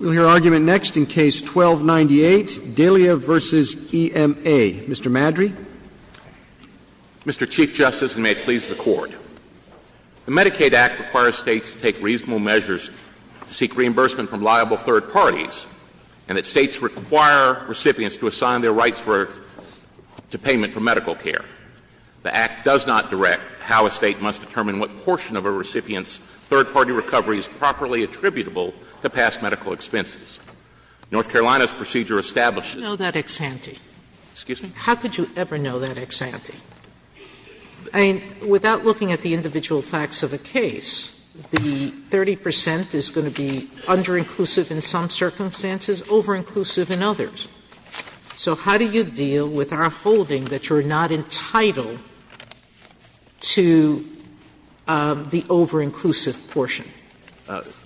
We'll hear argument next in Case 12-98, Delia v. E.M.A. Mr. Madry. Mr. Chief Justice, and may it please the Court, the Medicaid Act requires States to take reasonable measures to seek reimbursement from liable third parties, and that States require recipients to assign their rights to payment for medical care. The Act does not direct how a State must determine what portion of a recipient's third-party recovery is properly attributable to past medical expenses. North Carolina's procedure establishes that the recipient's third-party recovery is properly attributable to past medical expenses. Sotomayor. You know that ex-ante? Madry. Excuse me? Sotomayor. How could you ever know that ex-ante? I mean, without looking at the individual facts of a case, the 30 percent is going to be under-inclusive in some circumstances, over-inclusive in others. So how do you deal with our holding that you're not entitled to the over-inclusive portion?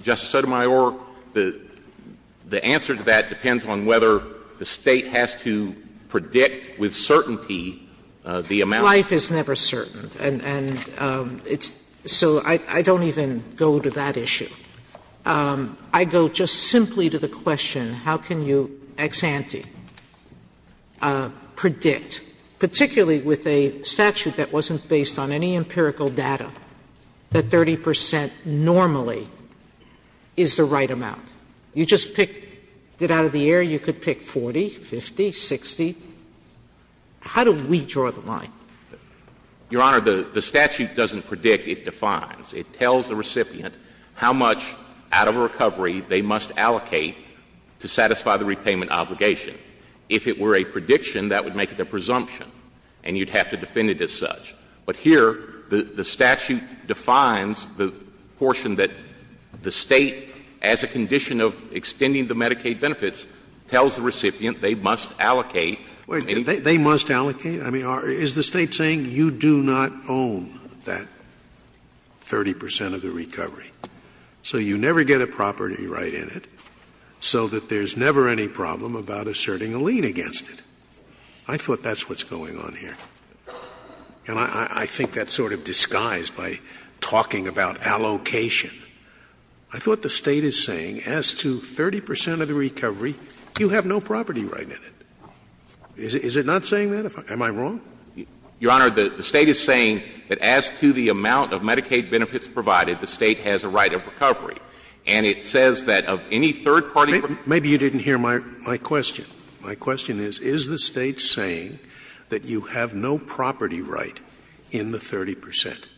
Justice Sotomayor, the answer to that depends on whether the State has to predict with certainty the amount. Life is never certain, and it's so I don't even go to that issue. I go just simply to the question, how can you ex-ante predict, particularly with a statute that wasn't based on any empirical data, that 30 percent normally is the right amount? You just pick it out of the air. You could pick 40, 50, 60. How do we draw the line? Your Honor, the statute doesn't predict. It defines. It tells the recipient how much out of a recovery they must allocate to satisfy the repayment obligation. If it were a prediction, that would make it a presumption, and you'd have to defend it as such. But here, the statute defines the portion that the State, as a condition of extending the Medicaid benefits, tells the recipient they must allocate. They must allocate? I mean, is the State saying you do not own that 30 percent of the recovery, so you never get a property right in it, so that there's never any problem about asserting a lien against it? I thought that's what's going on here. And I think that's sort of disguised by talking about allocation. I thought the State is saying as to 30 percent of the recovery, you have no property right in it. Is it not saying that? Am I wrong? Your Honor, the State is saying that as to the amount of Medicaid benefits provided, the State has a right of recovery. And it says that of any third-party recovery. Maybe you didn't hear my question. My question is, is the State saying that you have no property right in the 30 percent?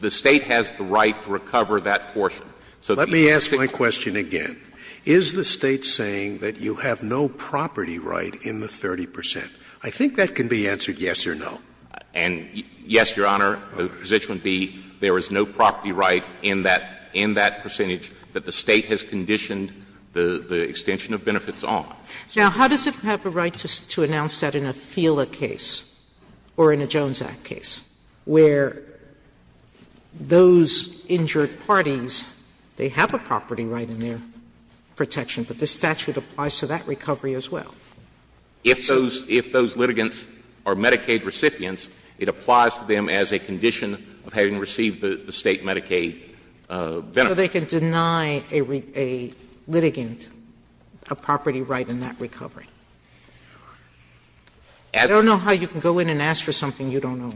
The State has the right to recover that portion. Let me ask my question again. Is the State saying that you have no property right in the 30 percent? I think that can be answered yes or no. And, yes, Your Honor, the position would be there is no property right in that percentage that the State has conditioned the extension of benefits on. Now, how does it have a right to announce that in a FELA case or in a Jones Act case, where those injured parties, they have a property right in their protection, but the statute applies to that recovery as well? If those litigants are Medicaid recipients, it applies to them as a condition of having received the State Medicaid benefits. So they can deny a litigant a property right in that recovery? I don't know how you can go in and ask for something you don't know.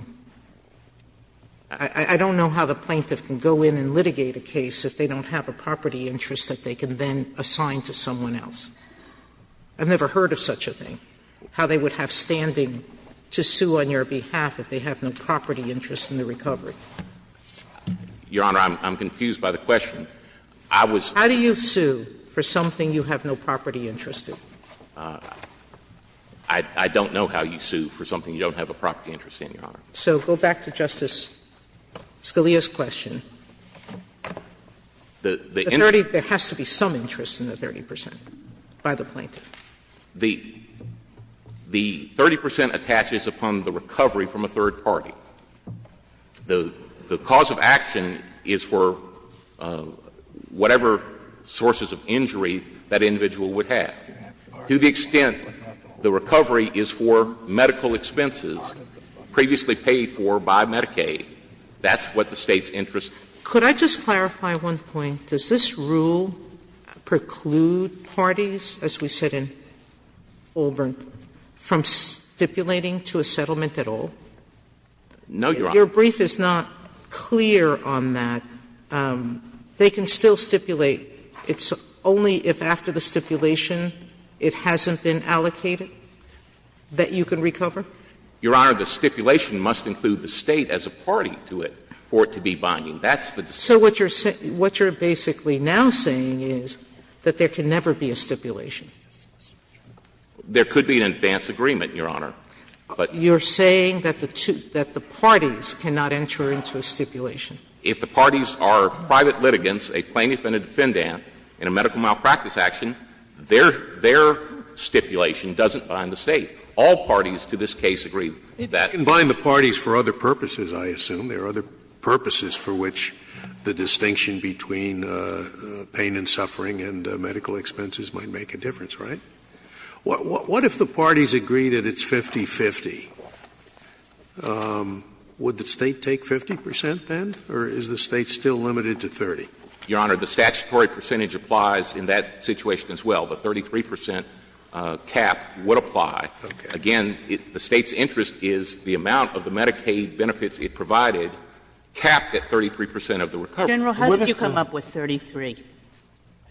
I don't know how the plaintiff can go in and litigate a case if they don't have a property interest that they can then assign to someone else. I've never heard of such a thing, how they would have standing to sue on your behalf if they have no property interest in the recovery. Your Honor, I'm confused by the question. I was. How do you sue for something you have no property interest in? I don't know how you sue for something you don't have a property interest in, Your Honor. So go back to Justice Scalia's question. The 30, there has to be some interest in the 30 percent. By the plaintiff. The 30 percent attaches upon the recovery from a third party. The cause of action is for whatever sources of injury that individual would have. To the extent the recovery is for medical expenses previously paid for by Medicaid, that's what the State's interest. Could I just clarify one point? Does this rule preclude parties, as we said in Fulbright, from stipulating to a settlement at all? No, Your Honor. Your brief is not clear on that. They can still stipulate. It's only if after the stipulation it hasn't been allocated that you can recover? Your Honor, the stipulation must include the State as a party to it for it to be binding. So what you're basically now saying is that there can never be a stipulation? There could be an advance agreement, Your Honor. You're saying that the parties cannot enter into a stipulation? If the parties are private litigants, a plaintiff and a defendant in a medical malpractice action, their stipulation doesn't bind the State. All parties to this case agree that. It can bind the parties for other purposes, I assume. There are other purposes for which the distinction between pain and suffering and medical expenses might make a difference, right? What if the parties agree that it's 50-50? Would the State take 50 percent then, or is the State still limited to 30? Your Honor, the statutory percentage applies in that situation as well. The 33 percent cap would apply. Again, the State's interest is the amount of the Medicaid benefits it provided capped at 33 percent of the recovery. General, how did you come up with 33?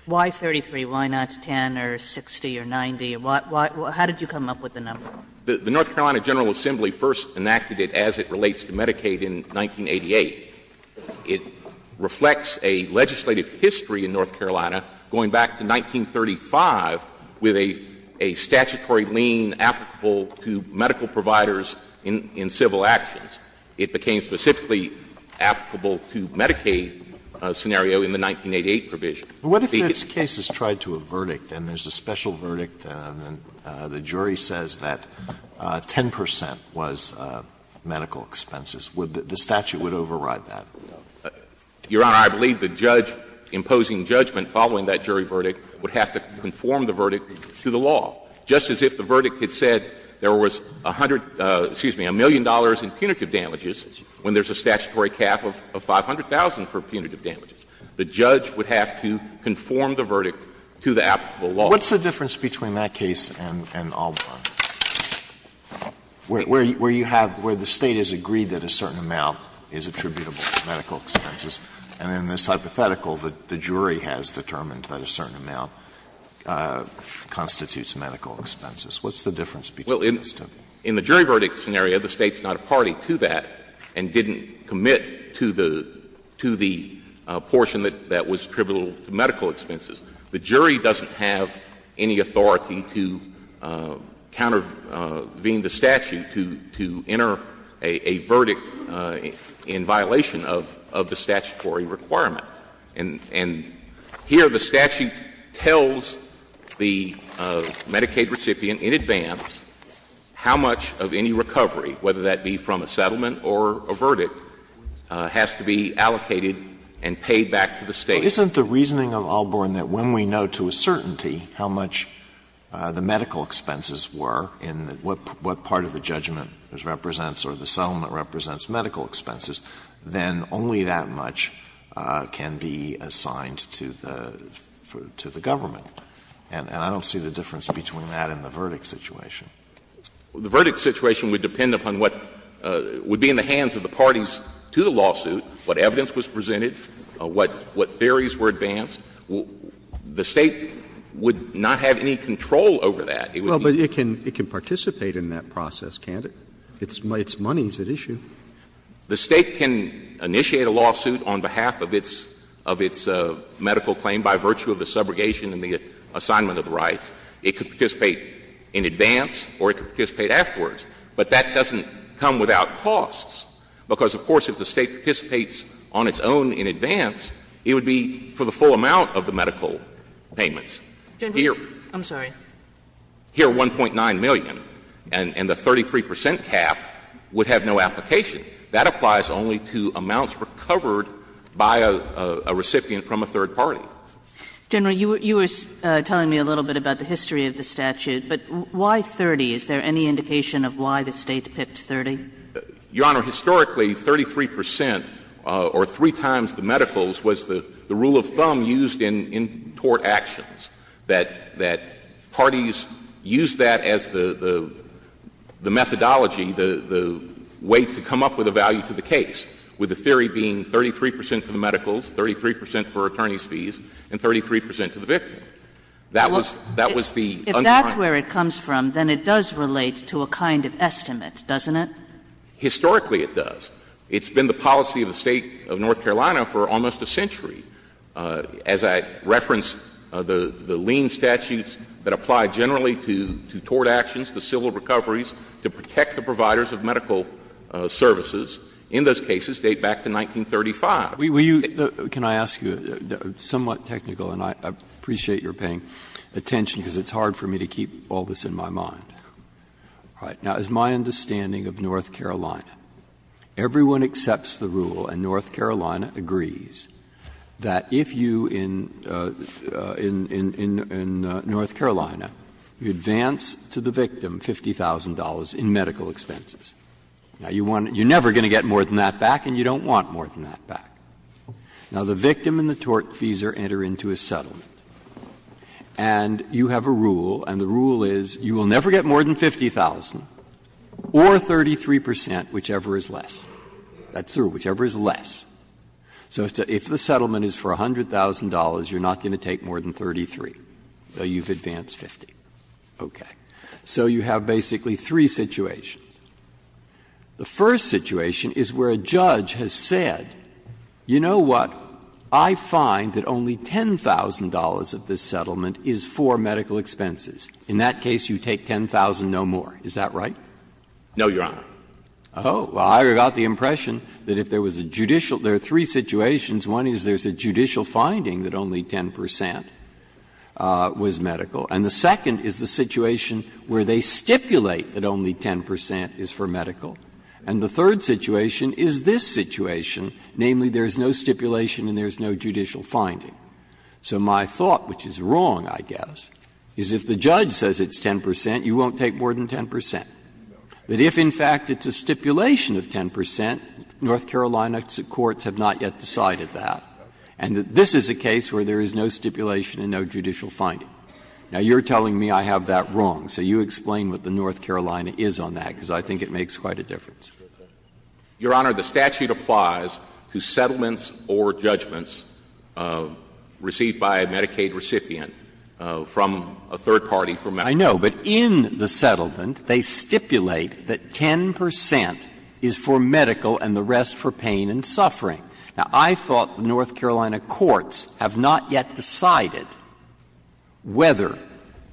Why 33? Why not 10 or 60 or 90? How did you come up with the number? The North Carolina General Assembly first enacted it as it relates to Medicaid in 1988. It reflects a legislative history in North Carolina going back to 1935 with a statutory lien applicable to medical providers in civil actions. It became specifically applicable to Medicaid scenario in the 1988 provision. But what if this case is tried to a verdict and there's a special verdict and the jury says that 10 percent was medical expenses? Would the statute override that? Your Honor, I believe the judge imposing judgment following that jury verdict would have to conform the verdict to the law, just as if the verdict had said there was a hundred — excuse me, a million dollars in punitive damages when there's a statutory cap of 500,000 for punitive damages. The judge would have to conform the verdict to the applicable law. What's the difference between that case and Albarn, where you have — where the State has agreed that a certain amount is attributable to medical expenses, and in this hypothetical, the jury has determined that a certain amount constitutes medical expenses? What's the difference between those two cases? In the jury verdict scenario, the State's not a party to that and didn't commit to the — to the portion that was attributable to medical expenses. The jury doesn't have any authority to countervene the statute to — to enter a verdict in violation of — of the statutory requirement. And here the statute tells the Medicaid recipient in advance how much of any recovery, whether that be from a settlement or a verdict, has to be allocated and paid back to the State. But isn't the reasoning of Albarn that when we know to a certainty how much the medical expenses were and what part of the judgment represents or the settlement represents medical expenses, then only that much can be assigned to the — to the government? And I don't see the difference between that and the verdict situation. The verdict situation would depend upon what would be in the hands of the parties to the lawsuit, what evidence was presented, what — what theories were advanced. The State would not have any control over that. It would be — Well, but it can — it can participate in that process, can't it? It's money that's at issue. The State can initiate a lawsuit on behalf of its — of its medical claim by virtue of the subrogation and the assignment of the rights. It could participate in advance or it could participate afterwards. But that doesn't come without costs, because, of course, if the State participates on its own in advance, it would be for the full amount of the medical payments. Here— I'm sorry. Here, 1.9 million, and the 33 percent cap would have no application. That applies only to amounts recovered by a recipient from a third party. General, you were telling me a little bit about the history of the statute, but why 30? Is there any indication of why the State picked 30? Your Honor, historically, 33 percent or three times the medicals was the rule of thumb used in tort actions, that parties used that as the methodology, the way to come up with a value to the case, with the theory being 33 percent for the medicals, 33 percent for attorney's fees, and 33 percent to the victim. That was the— If that's where it comes from, then it does relate to a kind of estimate, doesn't it? Historically, it does. And I'm not going to go into the details of the statute as I reference the lien statutes that apply generally to tort actions, to civil recoveries, to protect the providers of medical services. In those cases, they date back to 1935. We use the— Can I ask you, somewhat technical, and I appreciate your paying attention, because it's hard for me to keep all this in my mind. All right. Now, as my understanding of North Carolina, everyone accepts the rule, and North Carolina agrees, that if you in North Carolina advance to the victim $50,000 in medical expenses, now, you want to — you're never going to get more than that back, and you don't want more than that back. Now, the victim and the tortfeasor enter into a settlement, and you have a rule, and the rule is, you will never get more than $50,000 or 33 percent, whichever is less. That's the rule, whichever is less. So if the settlement is for $100,000, you're not going to take more than 33, though you've advanced 50. Okay. So you have basically three situations. The first situation is where a judge has said, you know what, I find that only $10,000 of this settlement is for medical expenses. In that case, you take $10,000, no more. Is that right? No, Your Honor. Oh. Well, I got the impression that if there was a judicial — there are three situations. One is there's a judicial finding that only 10 percent was medical. And the second is the situation where they stipulate that only 10 percent is for medical. And the third situation is this situation, namely, there's no stipulation and there's no judicial finding. So my thought, which is wrong, I guess, is if the judge says it's 10 percent, you won't take more than 10 percent. That if, in fact, it's a stipulation of 10 percent, North Carolina courts have not yet decided that. And that this is a case where there is no stipulation and no judicial finding. Now, you're telling me I have that wrong, so you explain what the North Carolina is on that, because I think it makes quite a difference. Your Honor, the statute applies to settlements or judgments received by a Medicaid recipient from a third party for medical. I know. But in the settlement, they stipulate that 10 percent is for medical and the rest for pain and suffering. Now, I thought the North Carolina courts have not yet decided whether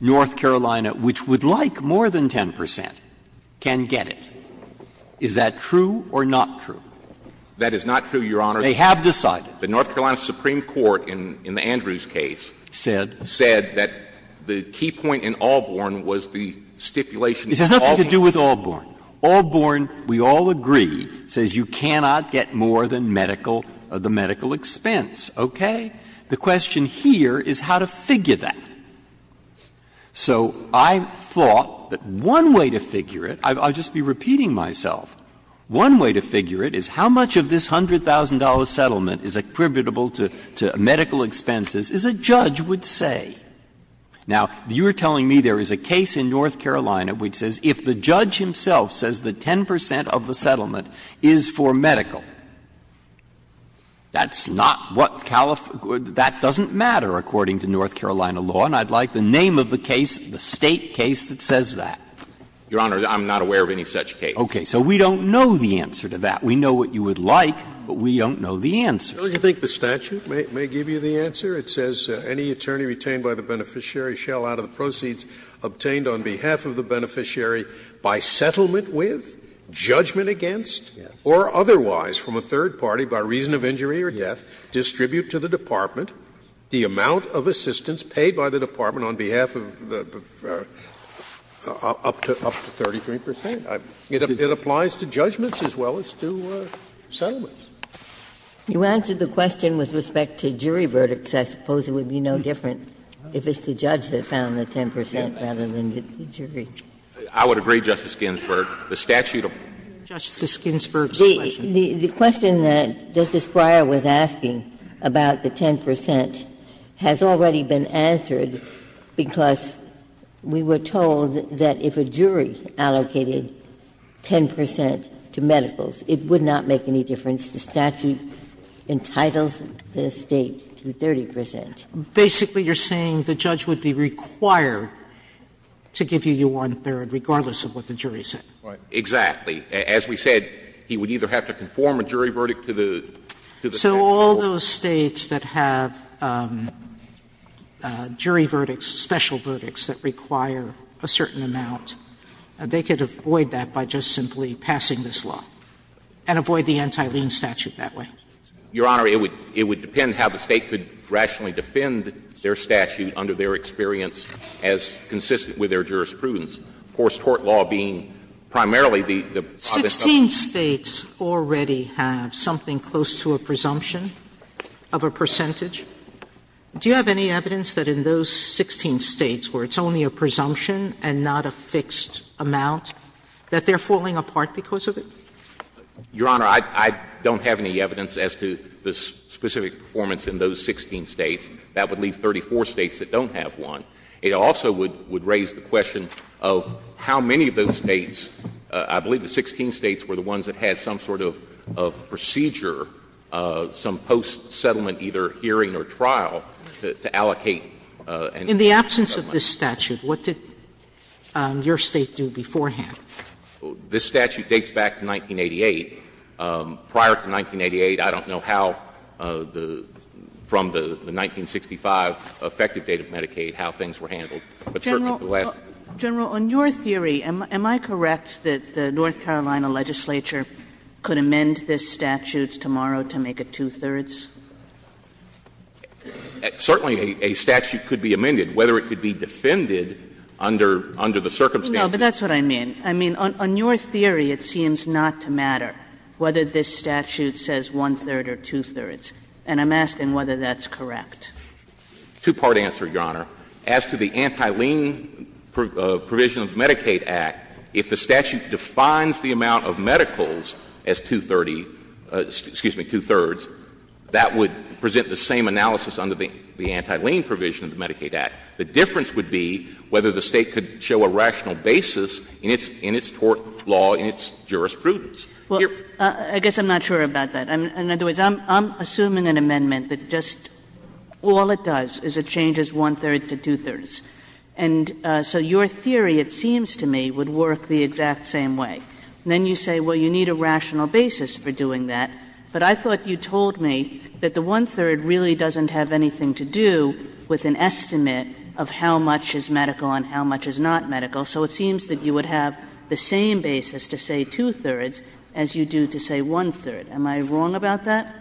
North Carolina, which would like more than 10 percent, can get it. Is that true or not true? That is not true, Your Honor. They have decided. The North Carolina Supreme Court in the Andrews case said that the key point in Allborn was the stipulation of all points. It has nothing to do with Allborn. Allborn, we all agree, says you cannot get more than medical, the medical expense. Okay? The question here is how to figure that. So I thought that one way to figure it, I'll just be repeating myself, one way to figure it is how much of this $100,000 settlement is attributable to medical expenses is a judge would say. Now, you are telling me there is a case in North Carolina which says if the judge himself says that 10 percent of the settlement is for medical, that's not what Calif That doesn't matter, according to North Carolina law, and I'd like the name of the case, the State case, that says that. Your Honor, I'm not aware of any such case. Okay. So we don't know the answer to that. We know what you would like, but we don't know the answer. Don't you think the statute may give you the answer? It says any attorney retained by the beneficiary shall, out of the proceeds obtained on behalf of the beneficiary, by settlement with, judgment against, or otherwise from a third party, by reason of injury or death, distribute to the department the amount of assistance paid by the department on behalf of the up to 33 percent. It applies to judgments as well as to settlements. You answered the question with respect to jury verdicts. I suppose it would be no different if it's the judge that found the 10 percent rather than the jury. I would agree, Justice Ginsburg, the statute of. Justice Ginsburg's question. The question that Justice Breyer was asking about the 10 percent has already been answered because we were told that if a jury allocated 10 percent to medicals, it would not make any difference. The statute entitles the State to 30 percent. Basically, you're saying the judge would be required to give you your one-third, regardless of what the jury said. Right. Exactly. As we said, he would either have to conform a jury verdict to the statute of tort. So all those States that have jury verdicts, special verdicts that require a certain amount, they could avoid that by just simply passing this law and avoid the anti-lien statute that way? Your Honor, it would depend how the State could rationally defend their statute under their experience as consistent with their jurisprudence. Of course, tort law being primarily the object of the statute. Sixteen States already have something close to a presumption of a percentage. Do you have any evidence that in those 16 States where it's only a presumption and not a fixed amount, that they're falling apart because of it? Your Honor, I don't have any evidence as to the specific performance in those 16 States. That would leave 34 States that don't have one. It also would raise the question of how many of those States, I believe the 16 States were the ones that had some sort of procedure, some post-settlement either hearing or trial, to allocate. In the absence of this statute, what did your State do beforehand? This statute dates back to 1988. Prior to 1988, I don't know how the 1965 effective date of Medicaid, how things were handled. But certainly, the last one. General, on your theory, am I correct that the North Carolina legislature could amend this statute tomorrow to make it two-thirds? Certainly, a statute could be amended, whether it could be defended under the circumstances. No, but that's what I mean. I mean, on your theory, it seems not to matter whether this statute says one-third or two-thirds. And I'm asking whether that's correct. Two-part answer, Your Honor. As to the anti-lien provision of the Medicaid Act, if the statute defines the amount of medicals as two-thirds, that would present the same analysis under the anti-lien provision of the Medicaid Act. The difference would be whether the State could show a rational basis in its tort law, in its jurisprudence. Well, I guess I'm not sure about that. In other words, I'm assuming an amendment that just all it does is it changes one-third to two-thirds. And so your theory, it seems to me, would work the exact same way. And then you say, well, you need a rational basis for doing that. But I thought you told me that the one-third really doesn't have anything to do with an estimate of how much is medical and how much is not medical. So it seems that you would have the same basis to say two-thirds as you do to say one-third. Am I wrong about that?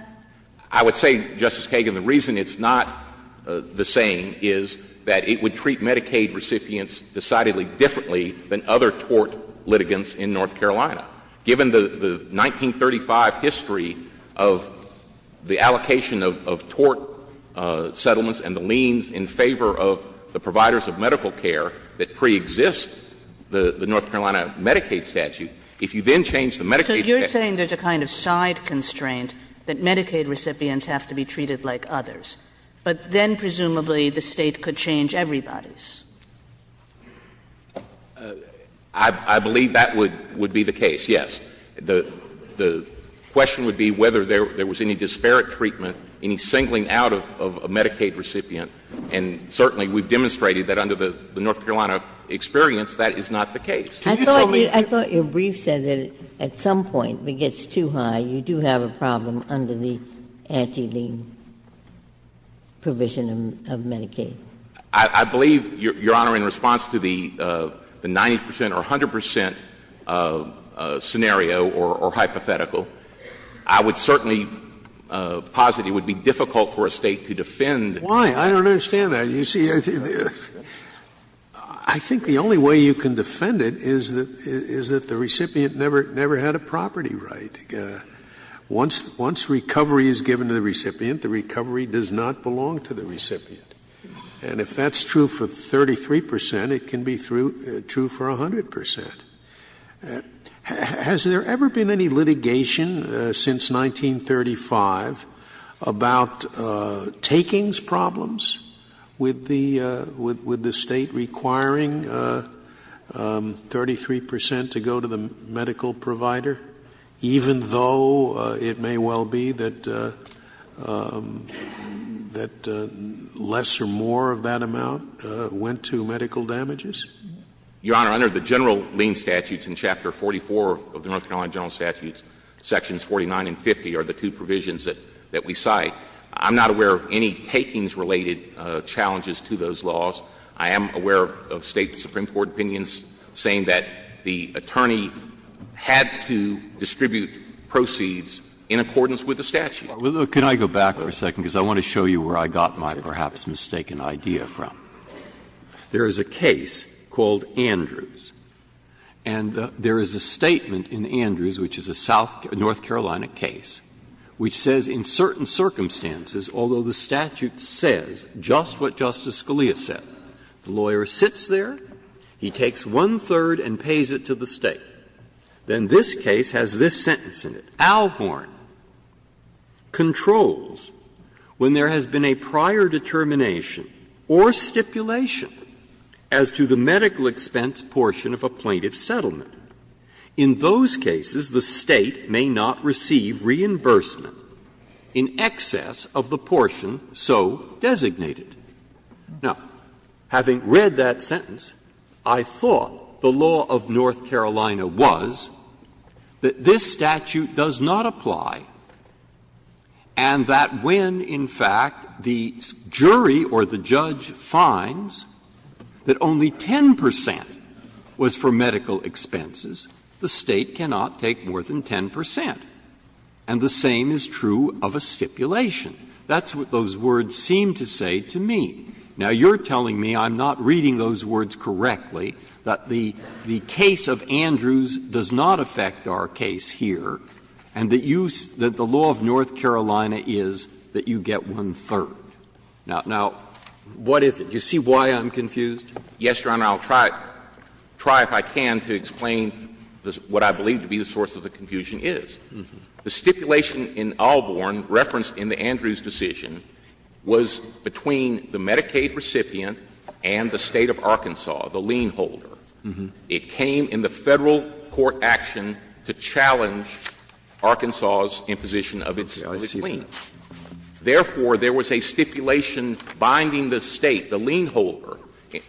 I would say, Justice Kagan, the reason it's not the same is that it would treat Medicaid recipients decidedly differently than other tort litigants in North Carolina. Given the 1935 history of the allocation of tort settlements and the liens in favor of the providers of medical care that preexist the North Carolina Medicaid statute, if you then change the Medicaid statute. So you're saying there's a kind of side constraint that Medicaid recipients have to be treated like others. But then presumably the State could change everybody's. I believe that would be the case, yes. The question would be whether there was any disparate treatment, any singling out of a Medicaid recipient. And certainly we've demonstrated that under the North Carolina experience, that is not the case. I thought your brief said that at some point, if it gets too high, you do have a problem under the anti-lien provision of Medicaid. I believe, Your Honor, in response to the 90 percent or 100 percent scenario or hypothetical, I would certainly posit it would be difficult for a State to defend. Why? I don't understand that. You see, I think the only way you can defend it is that the recipient never had a property right. Once recovery is given to the recipient, the recovery does not belong to the recipient. And if that's true for 33 percent, it can be true for 100 percent. Has there ever been any litigation since 1935 about takings problems with the State requiring 33 percent to go to the medical provider, even though it may well be that less or more of that amount went to medical damages? Your Honor, under the general lien statutes in Chapter 44 of the North Carolina General Statutes, Sections 49 and 50 are the two provisions that we cite. I'm not aware of any takings-related challenges to those laws. I am aware of State and Supreme Court opinions saying that the attorney had to distribute proceeds in accordance with the statute. Breyer, can I go back for a second, because I want to show you where I got my perhaps mistaken idea from. There is a case called Andrews, and there is a statement in Andrews, which is a South North Carolina case, which says in certain circumstances, although the statute says just what Justice Scalia said, the lawyer sits there, he takes one-third and pays it to the State. Then this case has this sentence in it, Alhorn controls when there has been a prior determination or stipulation as to the medical expense portion of a plaintiff's settlement. In those cases, the State may not receive reimbursement in excess of the portion so designated. Now, having read that sentence, I thought the law of North Carolina was that this jury or the judge finds that only 10 percent was for medical expenses. The State cannot take more than 10 percent. And the same is true of a stipulation. That's what those words seem to say to me. Now, you're telling me I'm not reading those words correctly, that the case of Andrews does not affect our case here, and that you see that the law of North Carolina is that you get one-third. Now, what is it? Do you see why I'm confused? Yes, Your Honor. I'll try if I can to explain what I believe to be the source of the confusion is. The stipulation in Alhorn referenced in the Andrews decision was between the Medicaid recipient and the State of Arkansas, the lien holder. It came in the Federal court action to challenge Arkansas's imposition of its claim. Therefore, there was a stipulation binding the State, the lien holder,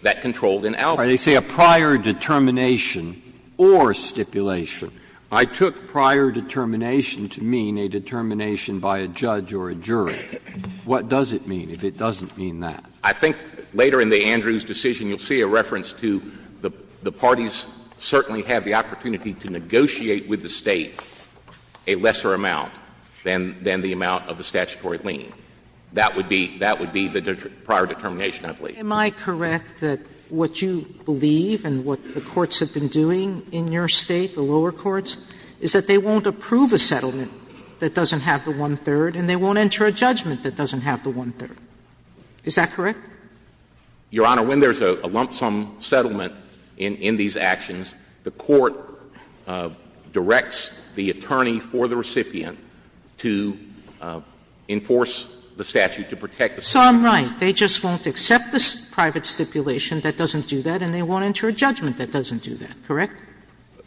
that controlled an alibi. Breyer, they say a prior determination or stipulation. I took prior determination to mean a determination by a judge or a jury. What does it mean if it doesn't mean that? I think later in the Andrews decision, you'll see a reference to the parties certainly have the opportunity to negotiate with the State a lesser amount than the amount of the statutory lien. That would be the prior determination, I believe. Am I correct that what you believe and what the courts have been doing in your State, the lower courts, is that they won't approve a settlement that doesn't have the one-third and they won't enter a judgment that doesn't have the one-third? Is that correct? Your Honor, when there's a lump sum settlement in these actions, the court directs the attorney for the recipient to enforce the statute to protect the statute. So I'm right. They just won't accept the private stipulation that doesn't do that and they won't enter a judgment that doesn't do that, correct?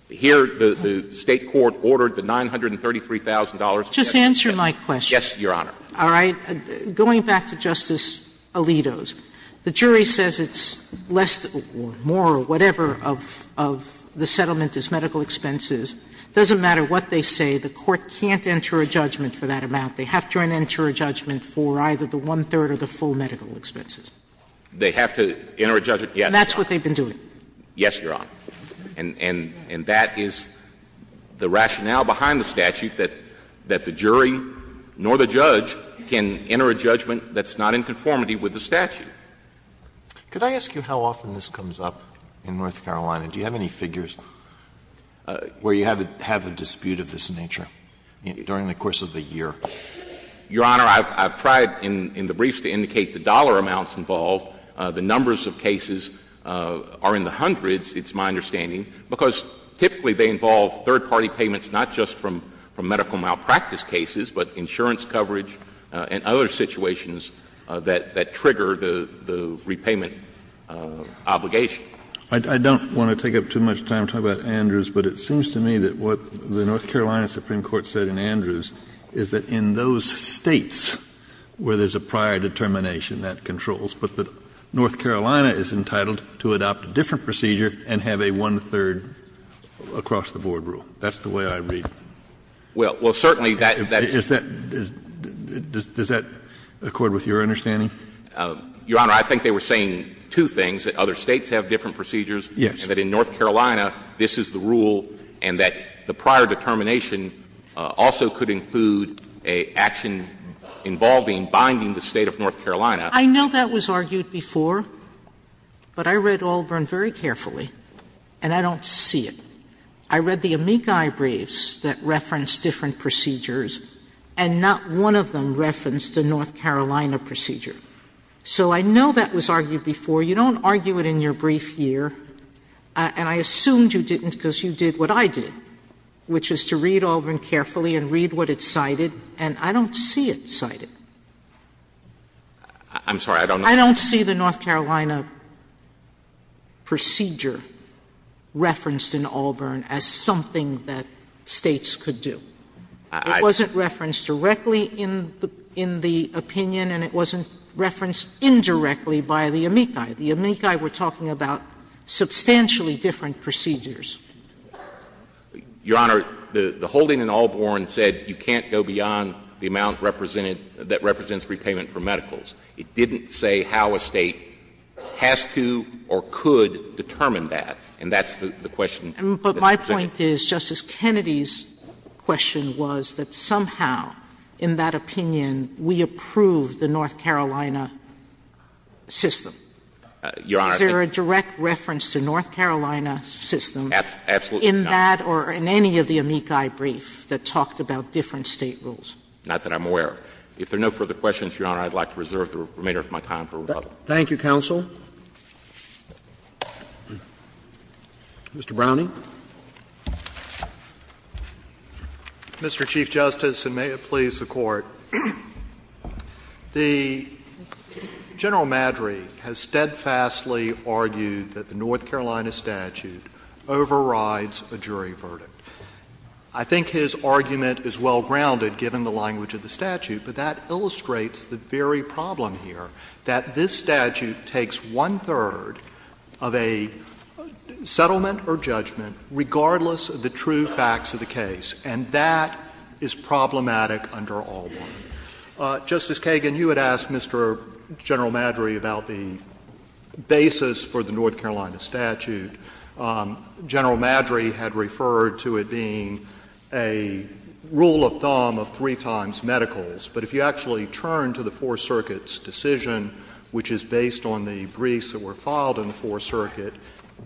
Here, the State court ordered the $933,000. Just answer my question. Yes, Your Honor. All right. Going back to Justice Alito's, the jury says it's less or more or whatever of the settlement is medical expenses. It doesn't matter what they say. The court can't enter a judgment for that amount. They have to enter a judgment for either the one-third or the full medical expenses. They have to enter a judgment. Yes, Your Honor. And that's what they've been doing. Yes, Your Honor. And that is the rationale behind the statute, that the jury nor the judge can enter a judgment that's not in conformity with the statute. Could I ask you how often this comes up in North Carolina? Do you have any figures where you have a dispute of this nature during the course of the year? Your Honor, I've tried in the briefs to indicate the dollar amounts involved. The numbers of cases are in the hundreds, it's my understanding, because typically they involve third-party payments not just from medical malpractice cases, but insurance coverage and other situations that trigger the repayment obligation. I don't want to take up too much time talking about Andrews, but it seems to me that what the North Carolina Supreme Court said in Andrews is that in those States where there's a prior determination that controls, but that North Carolina is entitled to adopt a different procedure and have a one-third across-the-board rule. That's the way I read it. Well, certainly that is. Does that accord with your understanding? Your Honor, I think they were saying two things, that other States have different procedures and that in North Carolina this is the rule and that the prior determination also could include an action involving binding the State of North Carolina. I know that was argued before, but I read Auburn very carefully and I don't see it. I read the amici briefs that referenced different procedures and not one of them referenced a North Carolina procedure. So I know that was argued before. You don't argue it in your brief here, and I assumed you didn't because you did what I did, which is to read Auburn carefully and read what it cited, and I don't see it cited. I don't see the North Carolina procedure referenced in Auburn. I don't see it referenced in Auburn as something that States could do. It wasn't referenced directly in the opinion and it wasn't referenced indirectly by the amici. The amici were talking about substantially different procedures. Your Honor, the holding in Auburn said you can't go beyond the amount represented that represents repayment for medicals. It didn't say how a State has to or could determine that, and that's the question. Sotomayor, but my point is, Justice Kennedy's question was that somehow, in that opinion, we approve the North Carolina system. Your Honor, I think that's absolutely not true. Is there a direct reference to North Carolina system in that or in any of the amici brief that talked about different State rules? Not that I'm aware of. If there are no further questions, Your Honor, I would like to reserve the remainder of my time for rebuttal. Thank you, counsel. Mr. Browning. Mr. Chief Justice, and may it please the Court, General Madry has steadfastly argued that the North Carolina statute overrides a jury verdict. I think his argument is well grounded, given the language of the statute, but that it's one-third of a settlement or judgment, regardless of the true facts of the case. And that is problematic under Albarn. Justice Kagan, you had asked Mr. General Madry about the basis for the North Carolina statute. General Madry had referred to it being a rule of thumb of three times medicals. But if you actually turn to the Fourth Circuit's decision, which is based on the briefs that were filed in the Fourth Circuit,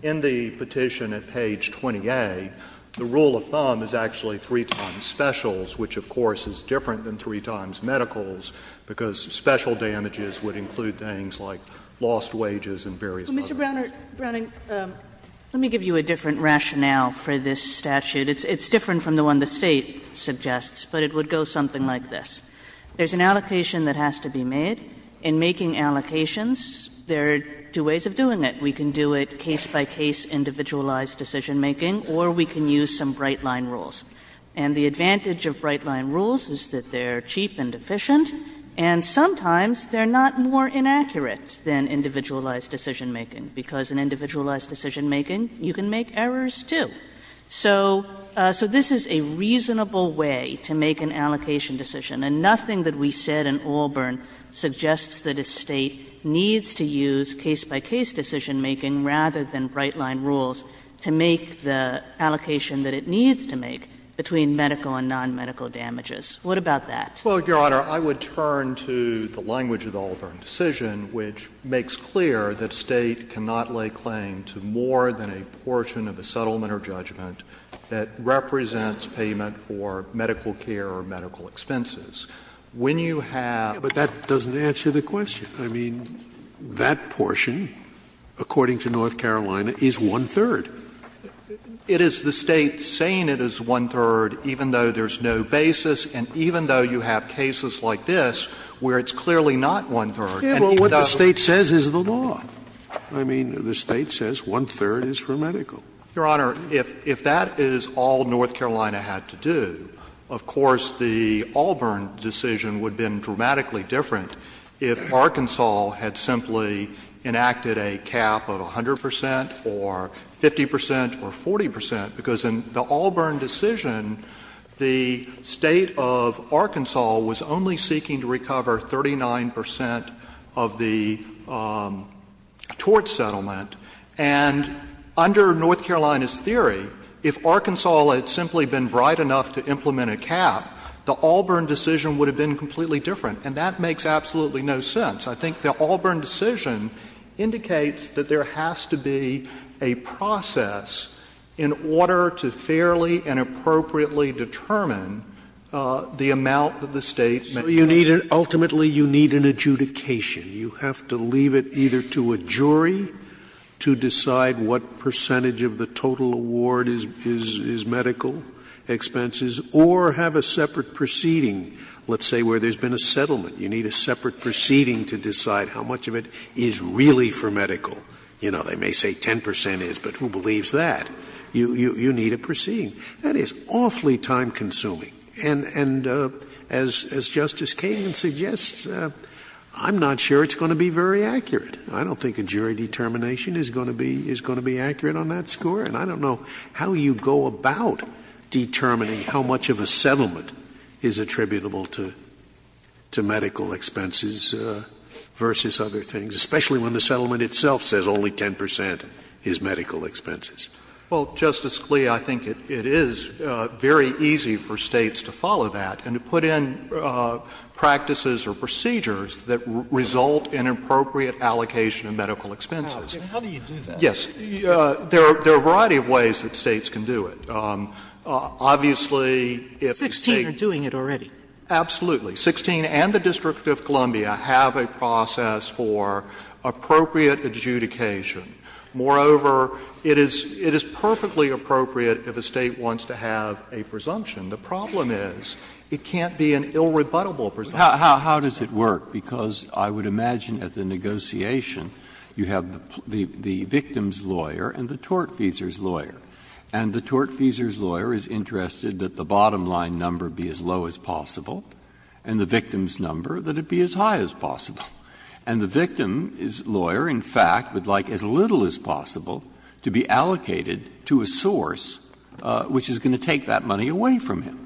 in the petition at page 20A, the rule of thumb is actually three times specials, which, of course, is different than three times medicals, because special damages would include things like lost wages and various other things. Kagan. Mr. Browning, let me give you a different rationale for this statute. It's different from the one the State suggests, but it would go something like this. There's an allocation that has to be made. In making allocations, there are two ways of doing it. We can do it case by case, individualized decisionmaking, or we can use some bright line rules. And the advantage of bright line rules is that they're cheap and efficient, and sometimes they're not more inaccurate than individualized decisionmaking, because in individualized decisionmaking you can make errors, too. So this is a reasonable way to make an allocation decision. And nothing that we said in Auburn suggests that a State needs to use case-by-case decisionmaking rather than bright line rules to make the allocation that it needs to make between medical and nonmedical damages. What about that? Browning, Your Honor, I would turn to the language of the Auburn decision, which makes clear that State cannot lay claim to more than a portion of a settlement or judgment that represents payment for medical care or medical expenses. When you have to take a case, you have to make a decision. Scalia, that doesn't answer the question. I mean, that portion, according to North Carolina, is one-third. It is the State saying it is one-third, even though there's no basis, and even though you have cases like this where it's clearly not one-third. And even though the State says is the law. I mean, the State says one-third is for medical. Browning, Your Honor, if that is all North Carolina had to do, of course, the Auburn decision would have been dramatically different if Arkansas had simply enacted a cap of 100 percent or 50 percent or 40 percent, because in the Auburn decision, the State of Arkansas was only seeking to recover 39 percent of the tort settlement. And under North Carolina's theory, if Arkansas had simply been bright enough to implement a cap, the Auburn decision would have been completely different. And that makes absolutely no sense. I think the Auburn decision indicates that there has to be a process in order to fairly and appropriately determine the amount that the State may pay. Scalia, so you need an — ultimately, you need an adjudication. You have to leave it either to a jury to decide what percentage of the total award is medical expenses, or have a separate proceeding, let's say, where there's been a settlement. You need a separate proceeding to decide how much of it is really for medical. You know, they may say 10 percent is, but who believes that? You need a proceeding. That is awfully time-consuming. And as Justice Kagan suggests, I'm not sure it's going to be very accurate. I don't think a jury determination is going to be accurate on that score. And I don't know how you go about determining how much of a settlement is attributable to medical expenses versus other things, especially when the settlement itself says only 10 percent is medical expenses. Well, Justice Scalia, I think it is very easy for States to follow that and to put in practices or procedures that result in appropriate allocation of medical expenses. How do you do that? Yes. There are a variety of ways that States can do it. Obviously, if the States do it. Sixteen are doing it already. Absolutely. Sixteen and the District of Columbia have a process for appropriate adjudication. Moreover, it is perfectly appropriate if a State wants to have a presumption. The problem is it can't be an irrebuttable presumption. How does it work? Because I would imagine at the negotiation you have the victim's lawyer and the tort feasor's lawyer. And the tort feasor's lawyer is interested that the bottom line number be as low as And the victim's lawyer, in fact, would like as little as possible to be allocated to a source which is going to take that money away from him.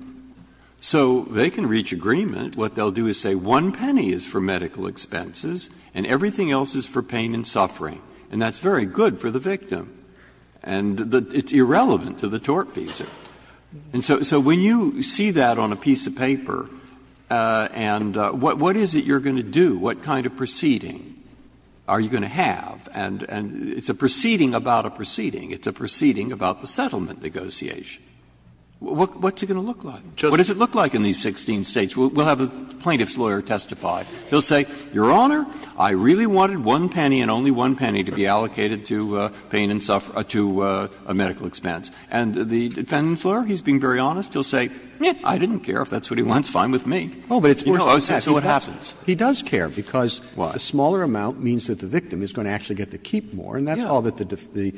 So they can reach agreement. What they will do is say one penny is for medical expenses and everything else is for pain and suffering. And that's very good for the victim. And it's irrelevant to the tort feasor. And so when you see that on a piece of paper, and what is it you are going to do, what kind of proceeding are you going to have, and it's a proceeding about a proceeding. It's a proceeding about the settlement negotiation. What's it going to look like? What does it look like in these 16 States? We will have a plaintiff's lawyer testify. He will say, Your Honor, I really wanted one penny and only one penny to be allocated to pain and suffering, to a medical expense. And the defendant's lawyer, he is being very honest, he will say, I didn't care if that's what he wants, fine with me. You know, that's what happens. He does care because a smaller amount means that the victim is going to actually get to keep more. And that's all that the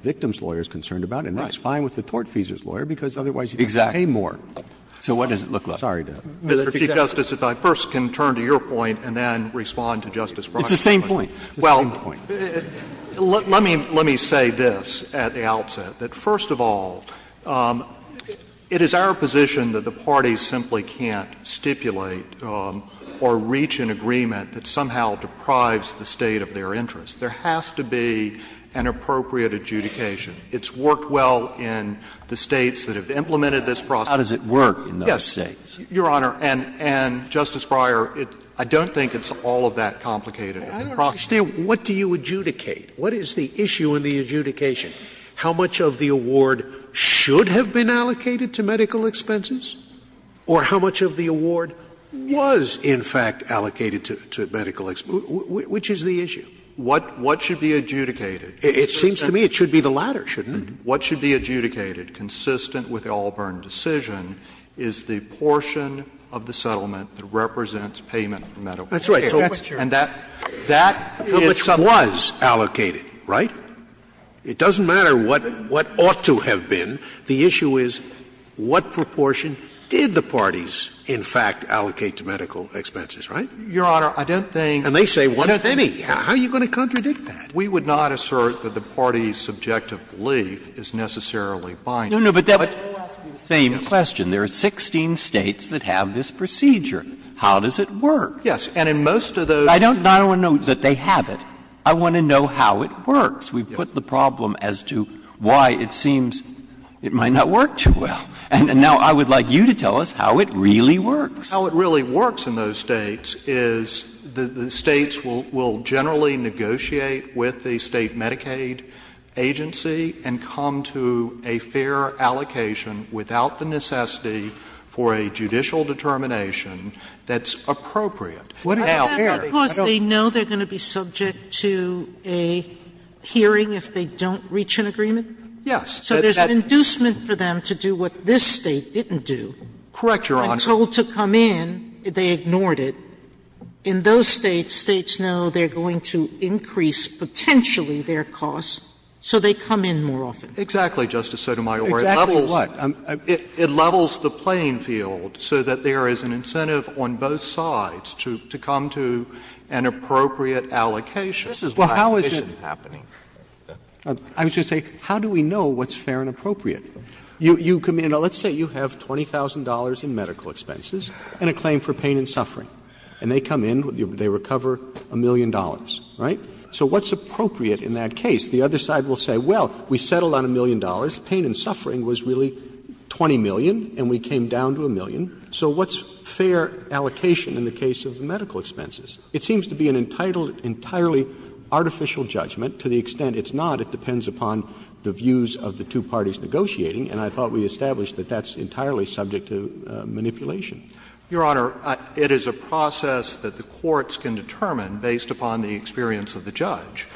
victim's lawyer is concerned about. And that's fine with the tort feasor's lawyer because otherwise he has to pay more. Exactly. So what does it look like? Sorry to interrupt. Mr. Chief Justice, if I first can turn to your point and then respond to Justice Proctor's point. It's the same point. It's the same point. Well, let me say this at the outset, that first of all, it is our position that the state of their interest, there has to be an appropriate adjudication. It's worked well in the states that have implemented this process. How does it work in those states? Yes, Your Honor. And, Justice Breyer, I don't think it's all of that complicated. I don't understand. What do you adjudicate? What is the issue in the adjudication? How much of the award should have been allocated to medical expenses? Or how much of the award was, in fact, allocated to medical expenses? Which is the issue? What should be adjudicated? It seems to me it should be the latter, shouldn't it? What should be adjudicated, consistent with the Allburn decision, is the portion of the settlement that represents payment of medical care. That's right. And that is what was allocated, right? It doesn't matter what ought to have been. The issue is what proportion did the parties, in fact, allocate to medical expenses, right? Your Honor, I don't think. And they say what do they mean? How are you going to contradict that? We would not assert that the parties' subjective belief is necessarily binding. No, no, but that's the same question. There are 16 States that have this procedure. How does it work? Yes. And in most of those states. I don't want to know that they have it. I want to know how it works. We put the problem as to why it seems it might not work too well. And now I would like you to tell us how it really works. How it really works in those States is the States will generally negotiate with the State Medicaid agency and come to a fair allocation without the necessity for a judicial determination that's appropriate. Now, I don't know. Sotomayor, does that mean because they know they are going to be subject to a hearing if they don't reach an agreement? Yes. So there's an inducement for them to do what this State didn't do. Correct, Your Honor. I'm told to come in, they ignored it. In those States, States know they are going to increase potentially their costs, so they come in more often. Exactly, Justice Sotomayor. Exactly what? It levels the playing field so that there is an incentive on both sides to come to an appropriate allocation. This is what I envision happening. I was going to say, how do we know what's fair and appropriate? You come in, let's say you have $20,000 in medical expenses and a claim for pain and suffering, and they come in, they recover a million dollars, right? So what's appropriate in that case? The other side will say, well, we settled on a million dollars, pain and suffering was really $20 million, and we came down to a million, so what's fair allocation in the case of medical expenses? It seems to be an entirely artificial judgment. To the extent it's not, it depends upon the views of the two parties negotiating, and I thought we established that that's entirely subject to manipulation. Your Honor, it is a process that the courts can determine based upon the experience of the judge,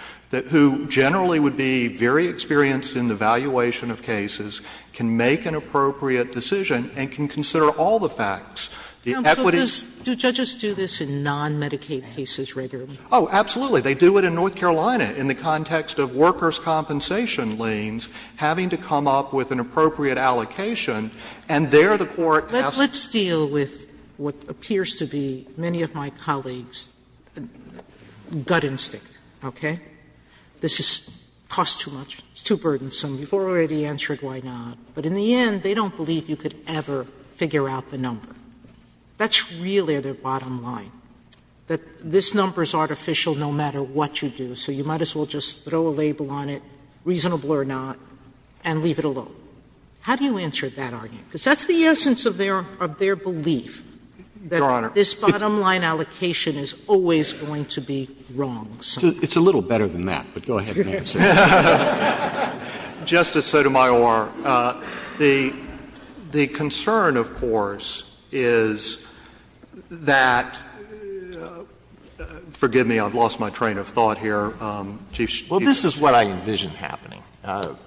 who generally would be very experienced in the valuation of cases, can make an appropriate decision and can consider all the facts. The equities do this in non-Medicaid cases regularly. Oh, absolutely. They do it in North Carolina in the context of workers' compensation liens, having to come up with an appropriate allocation, and there the court has to deal with what appears to be many of my colleagues' gut instinct, okay? This costs too much, it's too burdensome, you've already answered why not. But in the end, they don't believe you could ever figure out the number. That's really their bottom line, that this number is artificial no matter what you do, so you might as well just throw a label on it, reasonable or not, and leave it alone. How do you answer that argument? Because that's the essence of their belief. Your Honor. That this bottom line allocation is always going to be wrong. It's a little better than that, but go ahead and answer. Justice Sotomayor, the concern, of course, is that — forgive me, I've lost my train of thought here, Chief Justice. Well, this is what I envision happening.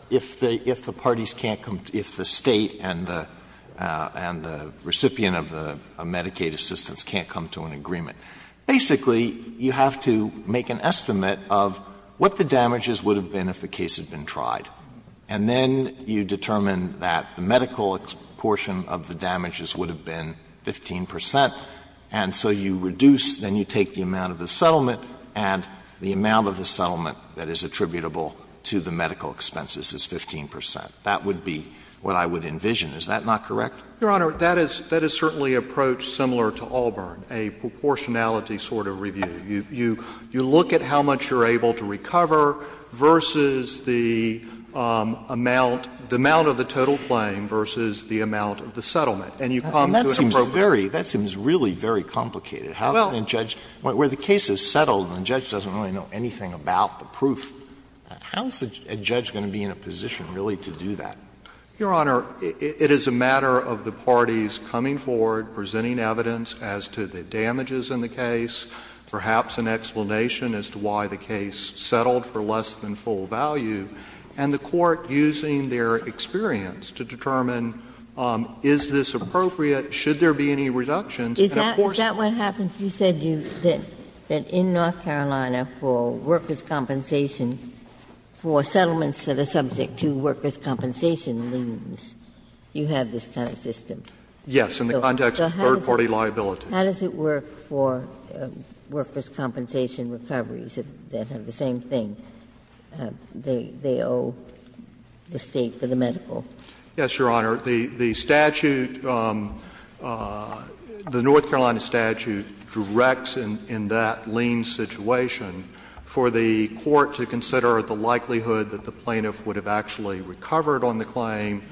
If the parties can't come — if the State and the recipient of Medicaid assistance can't come to an agreement, basically you have to make an estimate of what the damages would have been if the case had been tried, and then you determine that the medical portion of the damages would have been 15 percent, and so you reduce, then you take the amount of the settlement, and the amount of the settlement that is attributable to the medical expenses is 15 percent. That would be what I would envision. Is that not correct? Your Honor, that is certainly approached similar to Auburn, a proportionality sort of review. You look at how much you're able to recover versus the amount — the amount of the total claim versus the amount of the settlement, and you come to an appropriate— That seems very — that seems really very complicated. How can a judge — where the case is settled and the judge doesn't really know anything about the proof, how is a judge going to be in a position, really, to do that? Your Honor, it is a matter of the parties coming forward, presenting evidence as to the damages in the case, perhaps an explanation as to why the case settled for less than full value, and the court using their experience to determine, is this appropriate, should there be any reductions, and of course— Is that what happens? You said that in North Carolina for workers' compensation, for settlements that are subject to workers' compensation liens, you have this kind of system. Yes. So how does it work for workers' compensation recoveries that have the same thing? They owe the State for the medical. Yes, Your Honor. The statute, the North Carolina statute, directs in that lien situation for the court to consider the likelihood that the plaintiff would have actually recovered on the appropriate,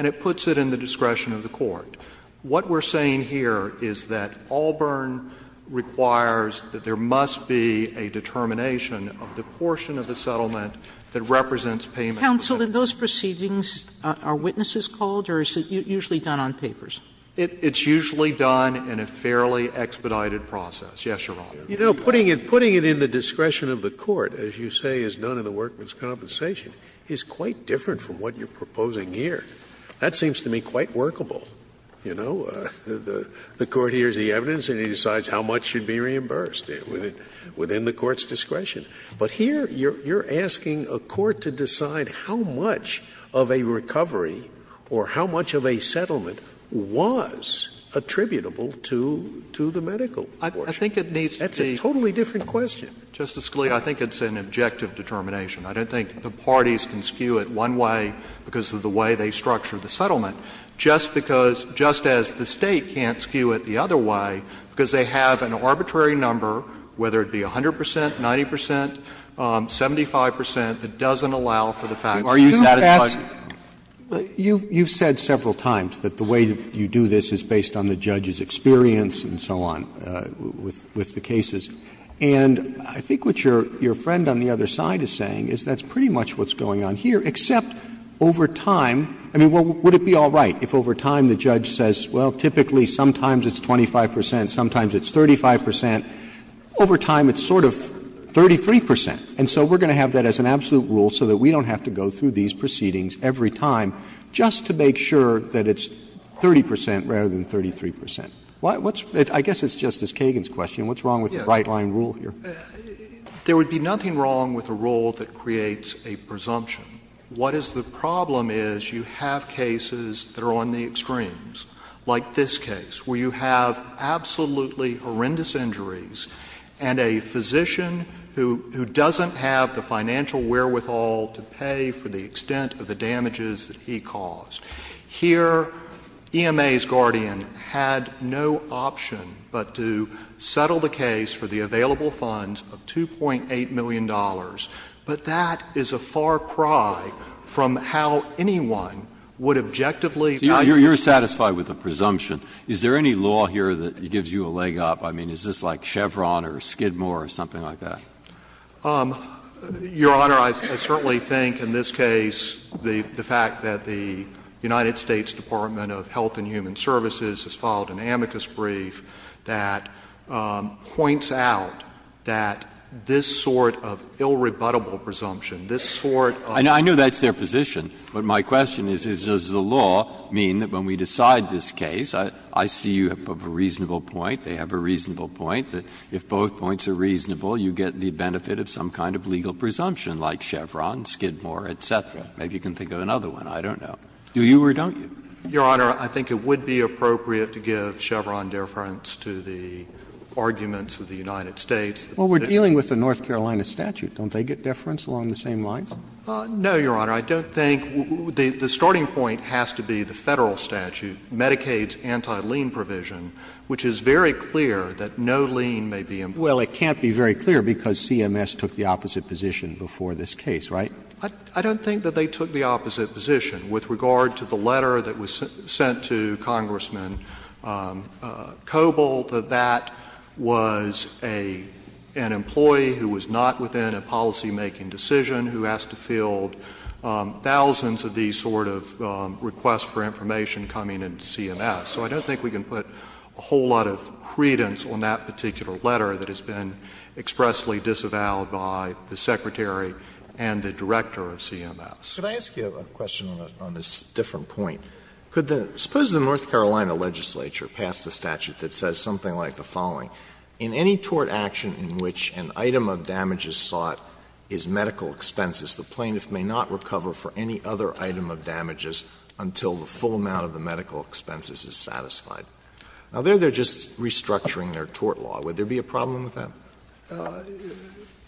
and it puts it in the discretion of the court. What we're saying here is that Auburn requires that there must be a determination of the portion of the settlement that represents payment. Counsel, in those proceedings, are witnesses called, or is it usually done on papers? It's usually done in a fairly expedited process. Yes, Your Honor. You know, putting it in the discretion of the court, as you say is done in the workers' compensation, is quite different from what you're proposing here. That seems to me quite workable, you know. The court hears the evidence, and it decides how much should be reimbursed within the court's discretion. But here you're asking a court to decide how much of a recovery or how much of a settlement was attributable to the medical portion. I think it needs to be — That's a totally different question. Justice Scalia, I think it's an objective determination. I don't think the parties can skew it one way because of the way they structure the settlement, just because — just as the State can't skew it the other way because they have an arbitrary number, whether it be 100 percent, 90 percent, 75 percent, that doesn't allow for the fact that you're satisfied. Are you satisfied? You've said several times that the way you do this is based on the judge's experience and so on with the cases. And I think what your friend on the other side is saying is that's pretty much what's going on here, except over time — I mean, would it be all right if over time the judge says, well, typically sometimes it's 25 percent, sometimes it's 35 percent. Over time it's sort of 33 percent. And so we're going to have that as an absolute rule so that we don't have to go through these proceedings every time just to make sure that it's 30 percent rather than 33 percent. I guess it's Justice Kagan's question. What's wrong with the right-line rule here? Yes. There would be nothing wrong with a rule that creates a presumption. What is the problem is you have cases that are on the extremes, like this case, where you have absolutely horrendous injuries and a physician who doesn't have the financial wherewithal to pay for the extent of the damages that he caused. Here, EMA's guardian had no option but to settle the case for the available funds of $2.8 million. But that is a far cry from how anyone would objectively value the case. So you're satisfied with the presumption. Is there any law here that gives you a leg up? I mean, is this like Chevron or Skidmore or something like that? Your Honor, I certainly think in this case the fact that the United States Department of Health and Human Services has filed an amicus brief that points out that this sort of ill-rebuttable presumption, this sort of law. And I know that's their position. But my question is, does the law mean that when we decide this case, I see you have a reasonable point, they have a reasonable point, that if both points are reasonable, you get the benefit of some kind of legal presumption like Chevron, Skidmore, et cetera? Maybe you can think of another one. I don't know. Do you or don't you? Your Honor, I think it would be appropriate to give Chevron deference to the arguments of the United States. Well, we're dealing with the North Carolina statute. Don't they get deference along the same lines? No, Your Honor. I don't think the starting point has to be the Federal statute, Medicaid's anti-lien provision, which is very clear that no lien may be imposed. Well, it can't be very clear because CMS took the opposite position before this case, right? I don't think that they took the opposite position with regard to the letter that was sent to Congressman Coble, that that was an employee who was not within a policy making decision, who has to field thousands of these sort of requests for information coming in to CMS. So I don't think we can put a whole lot of credence on that particular letter that has been expressly disavowed by the Secretary and the Director of CMS. Could I ask you a question on this different point? Could the — suppose the North Carolina legislature passed a statute that says something like the following. In any tort action in which an item of damage is sought is medical expenses, the plaintiff may not recover for any other item of damages until the full amount of the medical expenses is satisfied. Now, there they're just restructuring their tort law. Would there be a problem with that?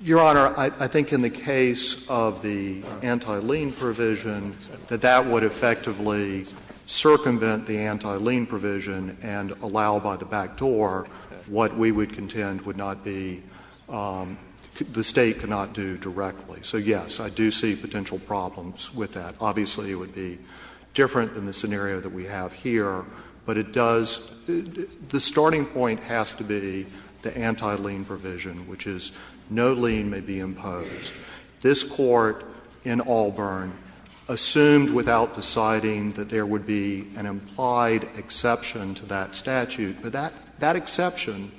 Your Honor, I think in the case of the anti-lien provision, that that would effectively circumvent the anti-lien provision and allow by the back door what we would contend would not be — the State could not do directly. So, yes, I do see potential problems with that. Obviously, it would be different than the scenario that we have here. But it does — the starting point has to be the anti-lien provision, which is no lien may be imposed. This Court in Auburn assumed without deciding that there would be an implied exception to that statute. But that — that exception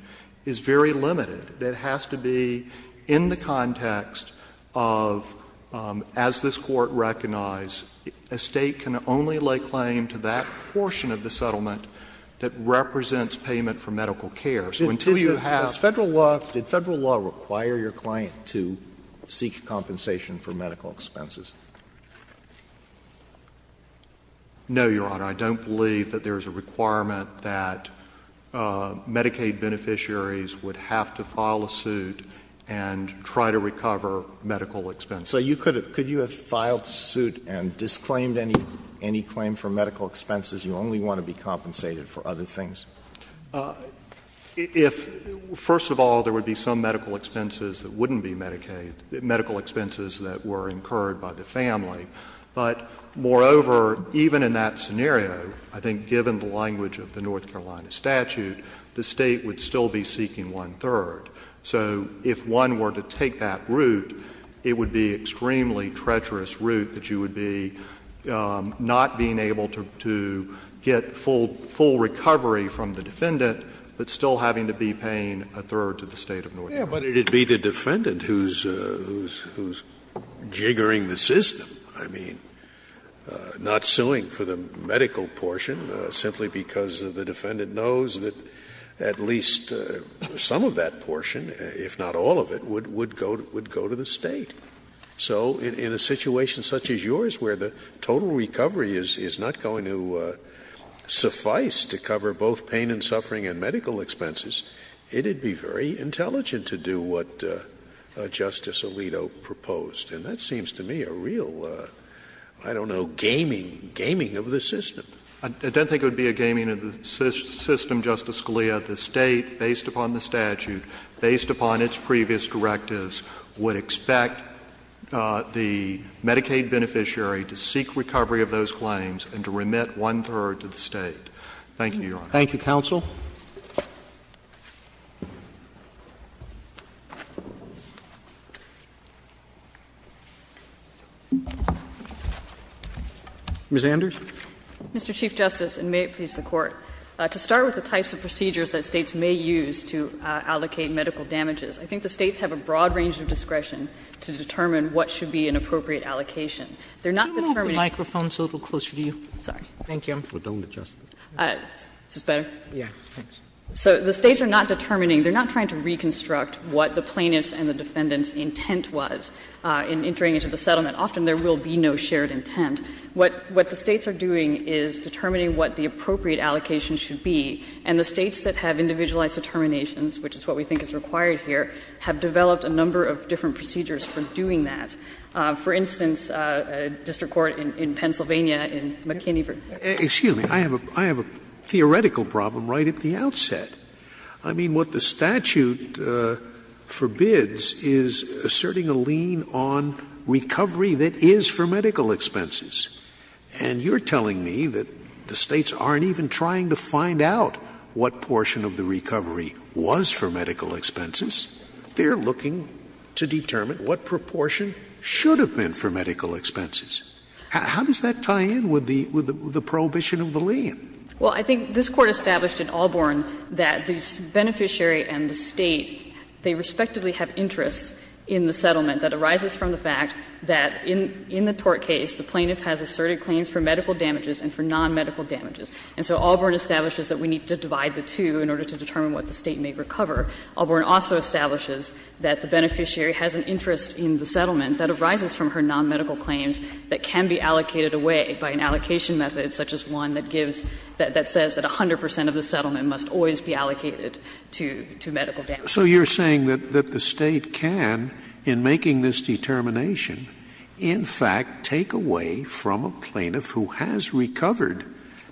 is very limited. It has to be in the context of, as this Court recognized, a State can only lay claim to that portion of the settlement that represents payment for medical care. So until you have— Did Federal law require your client to seek compensation for medical expenses? No, Your Honor. I don't believe that there is a requirement that Medicaid beneficiaries would have to file a suit and try to recover medical expenses. So you could have — could you have filed suit and disclaimed any claim for medical expenses? You only want to be compensated for other things. If — first of all, there would be some medical expenses that wouldn't be Medicaid — medical expenses that were incurred by the family. But, moreover, even in that scenario, I think given the language of the North Carolina statute, the State would still be seeking one-third. So if one were to take that route, it would be an extremely treacherous route that you would be not being able to get full — full recovery from the defendant, but still having to be paying a third to the State of North Carolina. Yeah, but it would be the defendant who's — who's jiggering the system. I mean, not suing for the medical portion simply because the defendant knows that at least some of that portion, if not all of it, would — would go — would go to the State. So in a situation such as yours where the total recovery is — is not going to suffice to cover both pain and suffering and medical expenses, it would be very intelligent to do what Justice Alito proposed. And that seems to me a real, I don't know, gaming — gaming of the system. I don't think it would be a gaming of the system, Justice Scalia. The State, based upon the statute, based upon its previous directives, would expect the Medicaid beneficiary to seek recovery of those claims and to remit one-third to the State. Thank you, Your Honor. Thank you, counsel. Ms. Anders. Mr. Chief Justice, and may it please the Court, to start with the types of procedures that States may use to allocate medical damages, I think the States have a broad range of discretion to determine what should be an appropriate allocation. They're not determining — Can you move the microphone so it will be closer to you? Sorry. Thank you. I'm for don't adjust it. Is this better? Yeah. Thanks. So the States are not determining — they're not trying to reconstruct what the plaintiff's and the defendant's intent was in entering into the settlement. Often there will be no shared intent. What the States are doing is determining what the appropriate allocation should be. And the States that have individualized determinations, which is what we think is required here, have developed a number of different procedures for doing that. For instance, district court in Pennsylvania in McKinney v.— Excuse me. I have a theoretical problem right at the outset. I mean, what the statute forbids is asserting a lien on recovery that is for medical expenses. And you're telling me that the States aren't even trying to find out what portion of the recovery was for medical expenses. They're looking to determine what proportion should have been for medical expenses. How does that tie in with the prohibition of the lien? Well, I think this Court established in Allborn that the beneficiary and the State, they respectively have interests in the settlement that arises from the fact that in the tort case the plaintiff has asserted claims for medical damages and for nonmedical damages. And so Allborn establishes that we need to divide the two in order to determine what the State may recover. Allborn also establishes that the beneficiary has an interest in the settlement that arises from her nonmedical claims that can be allocated away by an allocation method such as one that gives, that says that 100 percent of the settlement must always be allocated to medical damages. So you're saying that the State can, in making this determination, in fact take away from a plaintiff who has recovered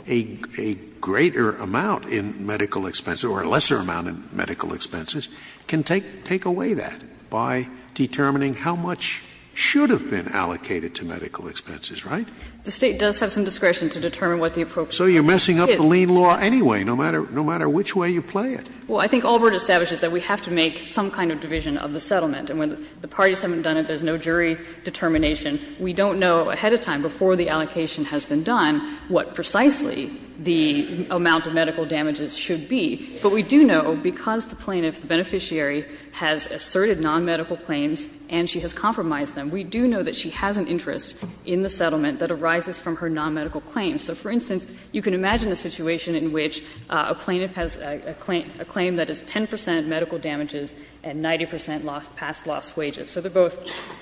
a greater amount in medical expenses or a lesser amount in medical expenses, can take away that by determining how much should have been allocated to medical expenses, right? The State does have some discretion to determine what the appropriate So you're messing up the lien law anyway, no matter which way you play it. Well, I think Allborn establishes that we have to make some kind of division of the settlement. And when the parties haven't done it, there's no jury determination. We don't know ahead of time, before the allocation has been done, what precisely the amount of medical damages should be. But we do know, because the plaintiff, the beneficiary, has asserted nonmedical claims and she has compromised them, we do know that she has an interest in the settlement that arises from her nonmedical claims. So, for instance, you can imagine a situation in which a plaintiff has a claim that is 10 percent medical damages and 90 percent past loss wages. So they're both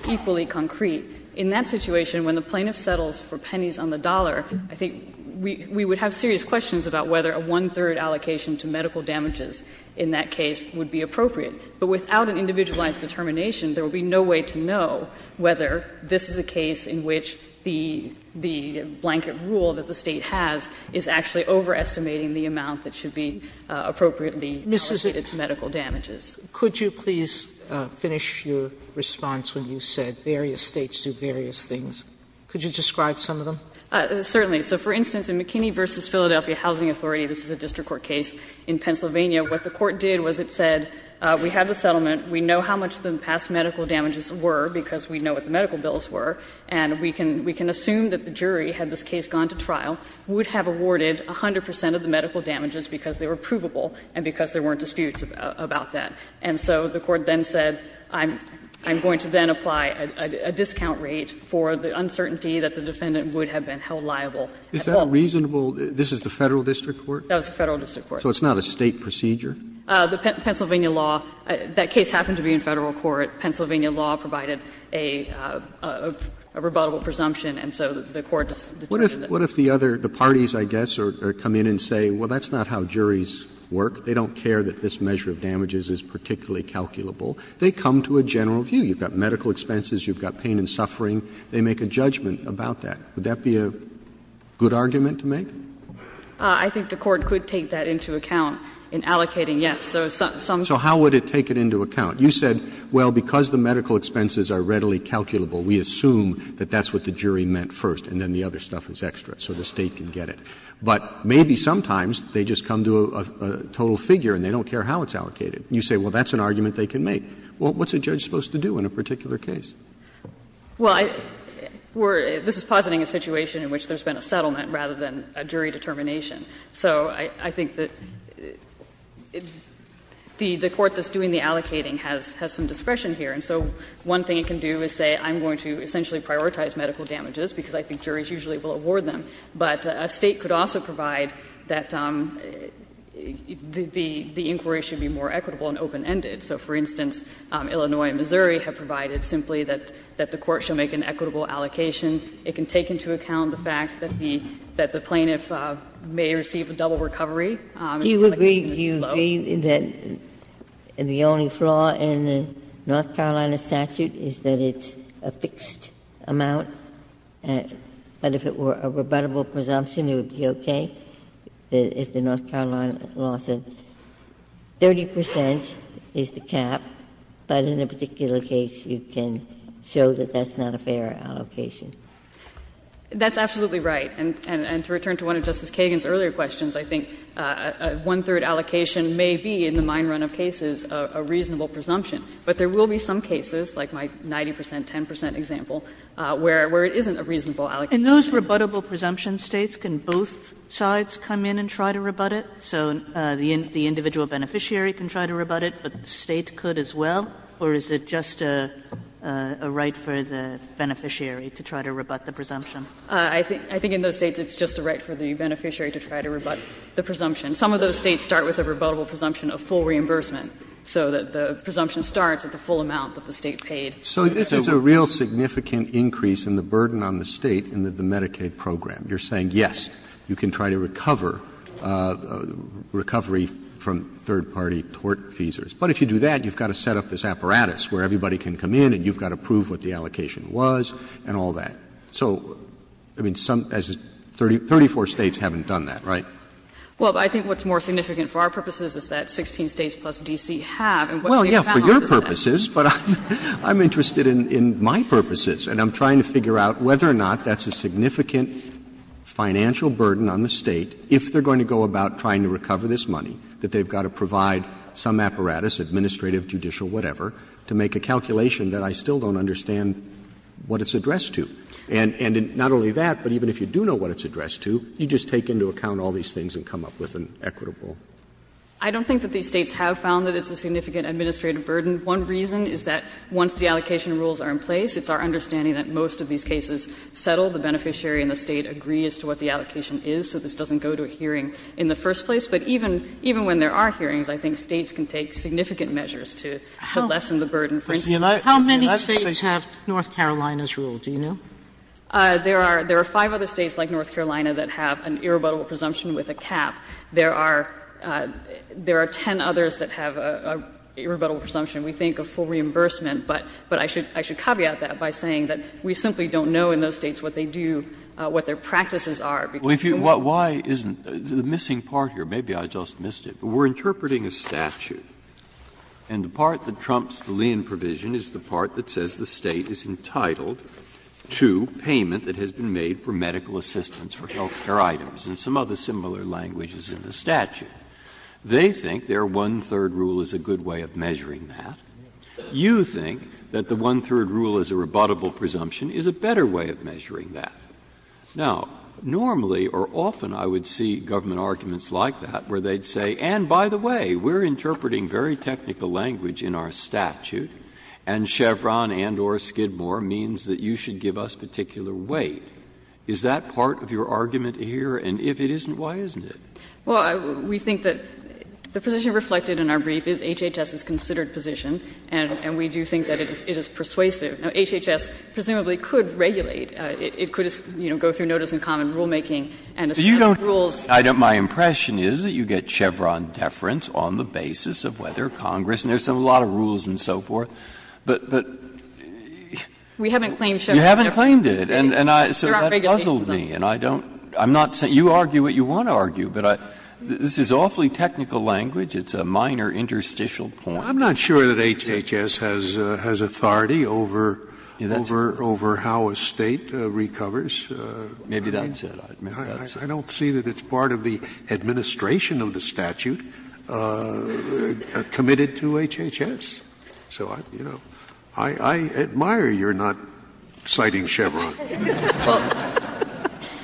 equally concrete. In that situation, when the plaintiff settles for pennies on the dollar, I think we would have serious questions about whether a one-third allocation to medical damages in that case would be appropriate. But without an individualized determination, there would be no way to know whether this is a case in which the blanket rule that the State has is actually overestimating the amount that should be appropriately allocated to medical damages. Sotomayor, could you please finish your response when you said various States do various things? Could you describe some of them? Certainly. So, for instance, in McKinney v. Philadelphia Housing Authority, this is a district court case in Pennsylvania, what the court did was it said, we have the settlement, we know how much the past medical damages were because we know what the medical bills were, and we can assume that the jury, had this case gone to trial, would have awarded 100 percent of the medical damages because they were provable and because there weren't disputes about that. And so the court then said, I'm going to then apply a discount rate for the uncertainty that the defendant would have been held liable at all. Is that a reasonable – this is the Federal district court? That was the Federal district court. So it's not a State procedure? The Pennsylvania law, that case happened to be in Federal court. Pennsylvania law provided a rebuttable presumption, and so the court determined that. What if the other parties, I guess, come in and say, well, that's not how juries work, they don't care that this measure of damages is particularly calculable, they come to a general view. You've got medical expenses, you've got pain and suffering, they make a judgment about that. Would that be a good argument to make? I think the court could take that into account in allocating, yes. So some. Roberts, So how would it take it into account? You said, well, because the medical expenses are readily calculable, we assume that that's what the jury meant first and then the other stuff is extra, so the State can get it. But maybe sometimes they just come to a total figure and they don't care how it's allocated. You say, well, that's an argument they can make. Well, what's a judge supposed to do in a particular case? Well, I – we're – this is positing a situation in which there's been a settlement rather than a jury determination. So I think that the court that's doing the allocating has some discretion here. And so one thing it can do is say I'm going to essentially prioritize medical damages because I think juries usually will award them, but a State could also provide that the inquiry should be more equitable and open-ended. So, for instance, Illinois and Missouri have provided simply that the court should make an equitable allocation. It can take into account the fact that the plaintiff may receive a double recovery, and the allocations are low. Ginsburg Do you agree, do you agree that the only flaw in the North Carolina statute is that it's a fixed amount, but if it were a rebuttable presumption it would be okay if the North Carolina law said 30 percent is the cap, but in a particular case you can show that that's not a fair allocation? That's absolutely right, and to return to one of Justice Kagan's earlier questions, I think a one-third allocation may be, in the mine run of cases, a reasonable presumption, but there will be some cases, like my 90 percent, 10 percent example, where it isn't a reasonable allocation. And those rebuttable presumption states can both sides come in and try to rebut it? So the individual beneficiary can try to rebut it, but the State could as well, or is it just a right for the beneficiary to try to rebut the presumption? I think in those States it's just a right for the beneficiary to try to rebut the presumption. Some of those States start with a rebuttable presumption of full reimbursement, so that the presumption starts at the full amount that the State paid. So this is a real significant increase in the burden on the State in the Medicaid program. You're saying, yes, you can try to recover, recovery from third-party tort feasors. But if you do that, you've got to set up this apparatus where everybody can come in and you've got to prove what the allocation was and all that. So, I mean, some, as 34 States haven't done that, right? Well, I think what's more significant for our purposes is that 16 States plus D.C. have, and what they've found out is that. Well, yes, for your purposes, but I'm interested in my purposes, and I'm trying to figure out whether or not that's a significant financial burden on the State if they're going to go about trying to recover this money, that they've got to provide some apparatus, administrative, judicial, whatever, to make a calculation that I still don't understand what it's addressed to. And not only that, but even if you do know what it's addressed to, you just take into account all these things and come up with an equitable. I don't think that these States have found that it's a significant administrative burden. One reason is that once the allocation rules are in place, it's our understanding that most of these cases settle. The beneficiary and the State agree as to what the allocation is, so this doesn't go to a hearing in the first place. But even when there are hearings, I think States can take significant measures to lessen the burden. Sotomayor, how many States have North Carolina's rule, do you know? There are five other States, like North Carolina, that have an irrebuttable presumption with a cap. There are ten others that have an irrebuttable presumption. We think of full reimbursement, but I should caveat that by saying that we simply don't know in those States what they do, what their practices are. Breyer, why isn't the missing part here, maybe I just missed it, but we are interpreting a statute and the part that trumps the Lien provision is the part that says the State is entitled to payment that has been made for medical assistance for health care items and some other similar languages in the statute. They think their one-third rule is a good way of measuring that. You think that the one-third rule as a rebuttable presumption is a better way of measuring that. Now, normally or often I would see government arguments like that where they would say, and by the way, we are interpreting very technical language in our statute and Chevron and or Skidmore means that you should give us particular weight. Is that part of your argument here? And if it isn't, why isn't it? Well, we think that the position reflected in our brief is HHS is considered position and we do think that it is persuasive. Now, HHS presumably could regulate, it could, you know, go through notice and common rulemaking and a set of rules. Breyer, my impression is that you get Chevron deference on the basis of whether Congress, and there are a lot of rules and so forth, but, but. We haven't claimed Chevron deference. You haven't claimed it. And I, so that puzzled me and I don't, I'm not saying, you argue what you want to argue, but I, this is awfully technical language, it's a minor interstitial point. I'm not sure that HHS has, has authority over, over, over how a State recovers. Maybe that's it. I don't see that it's part of the administration of the statute committed to HHS. So I, you know, I, I admire you're not citing Chevron. Well,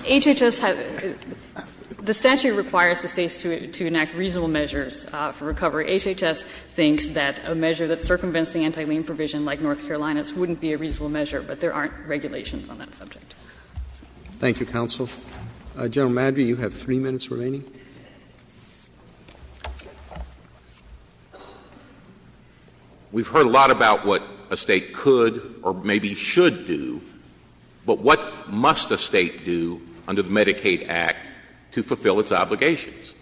HHS has, the statute requires the States to enact reasonable measures for recovery. HHS thinks that a measure that circumvents the anti-lien provision like North Carolina's wouldn't be a reasonable measure, but there aren't regulations on that subject. Thank you, counsel. General Maddrey, you have three minutes remaining. We've heard a lot about what a State could or maybe should do, but what must a State do under the Medicaid Act to fulfill its obligations?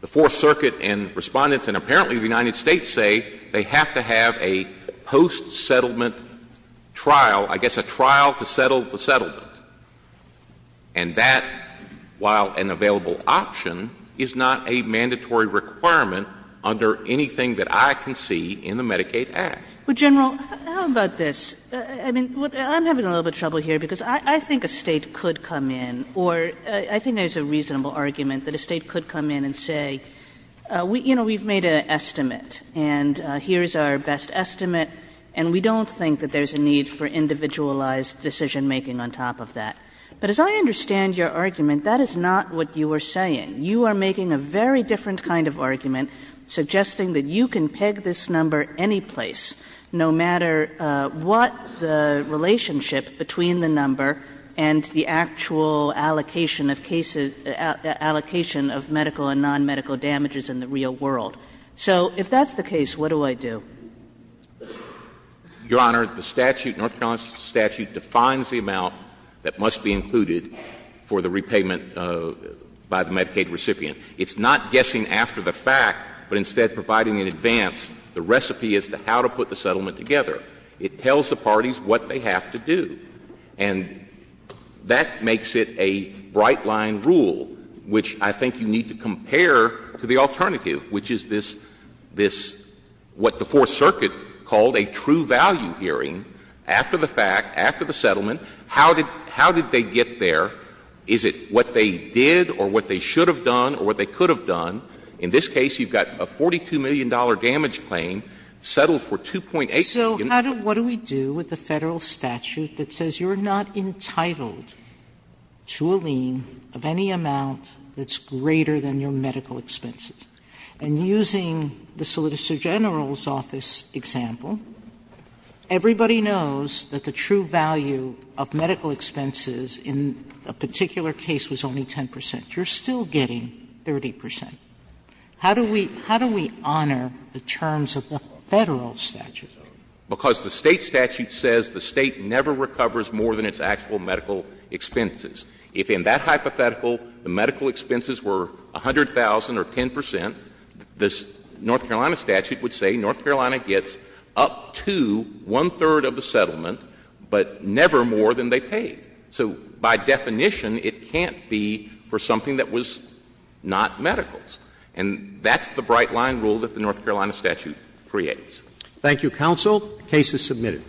The Fourth Circuit and Respondents and apparently the United States say they have to have a post-settlement trial, I guess a trial to settle the settlement. And that, while an available option, is not a mandatory requirement under anything that I can see in the Medicaid Act. Well, General, how about this? I mean, I'm having a little bit of trouble here because I think a State could come in, or I think there's a reasonable argument that a State could come in and say, you know, we've made an estimate, and here's our best estimate, and we don't think that there's a need for individualized decision-making on top of that. But as I understand your argument, that is not what you are saying. You are making a very different kind of argument, suggesting that you can peg this allocation of cases, allocation of medical and nonmedical damages in the real world. So if that's the case, what do I do? Your Honor, the statute, North Carolina statute, defines the amount that must be included for the repayment by the Medicaid recipient. It's not guessing after the fact, but instead providing in advance the recipe as to how to put the settlement together. It tells the parties what they have to do. And that makes it a bright-line rule, which I think you need to compare to the alternative, which is this — this — what the Fourth Circuit called a true value hearing. After the fact, after the settlement, how did — how did they get there? Is it what they did or what they should have done or what they could have done? In this case, you've got a $42 million damage claim settled for $2.8 million. Sotomayor, so how do — what do we do with the Federal statute that says you're not entitled to a lien of any amount that's greater than your medical expenses? And using the Solicitor General's office example, everybody knows that the true value of medical expenses in a particular case was only 10 percent. You're still getting 30 percent. How do we — how do we honor the terms of the Federal statute? Because the State statute says the State never recovers more than its actual medical expenses. If in that hypothetical the medical expenses were 100,000 or 10 percent, the North Carolina statute would say North Carolina gets up to one-third of the settlement, but never more than they paid. So by definition, it can't be for something that was not medicals. And that's the bright-line rule that the North Carolina statute creates. Thank you, counsel. The case is submitted.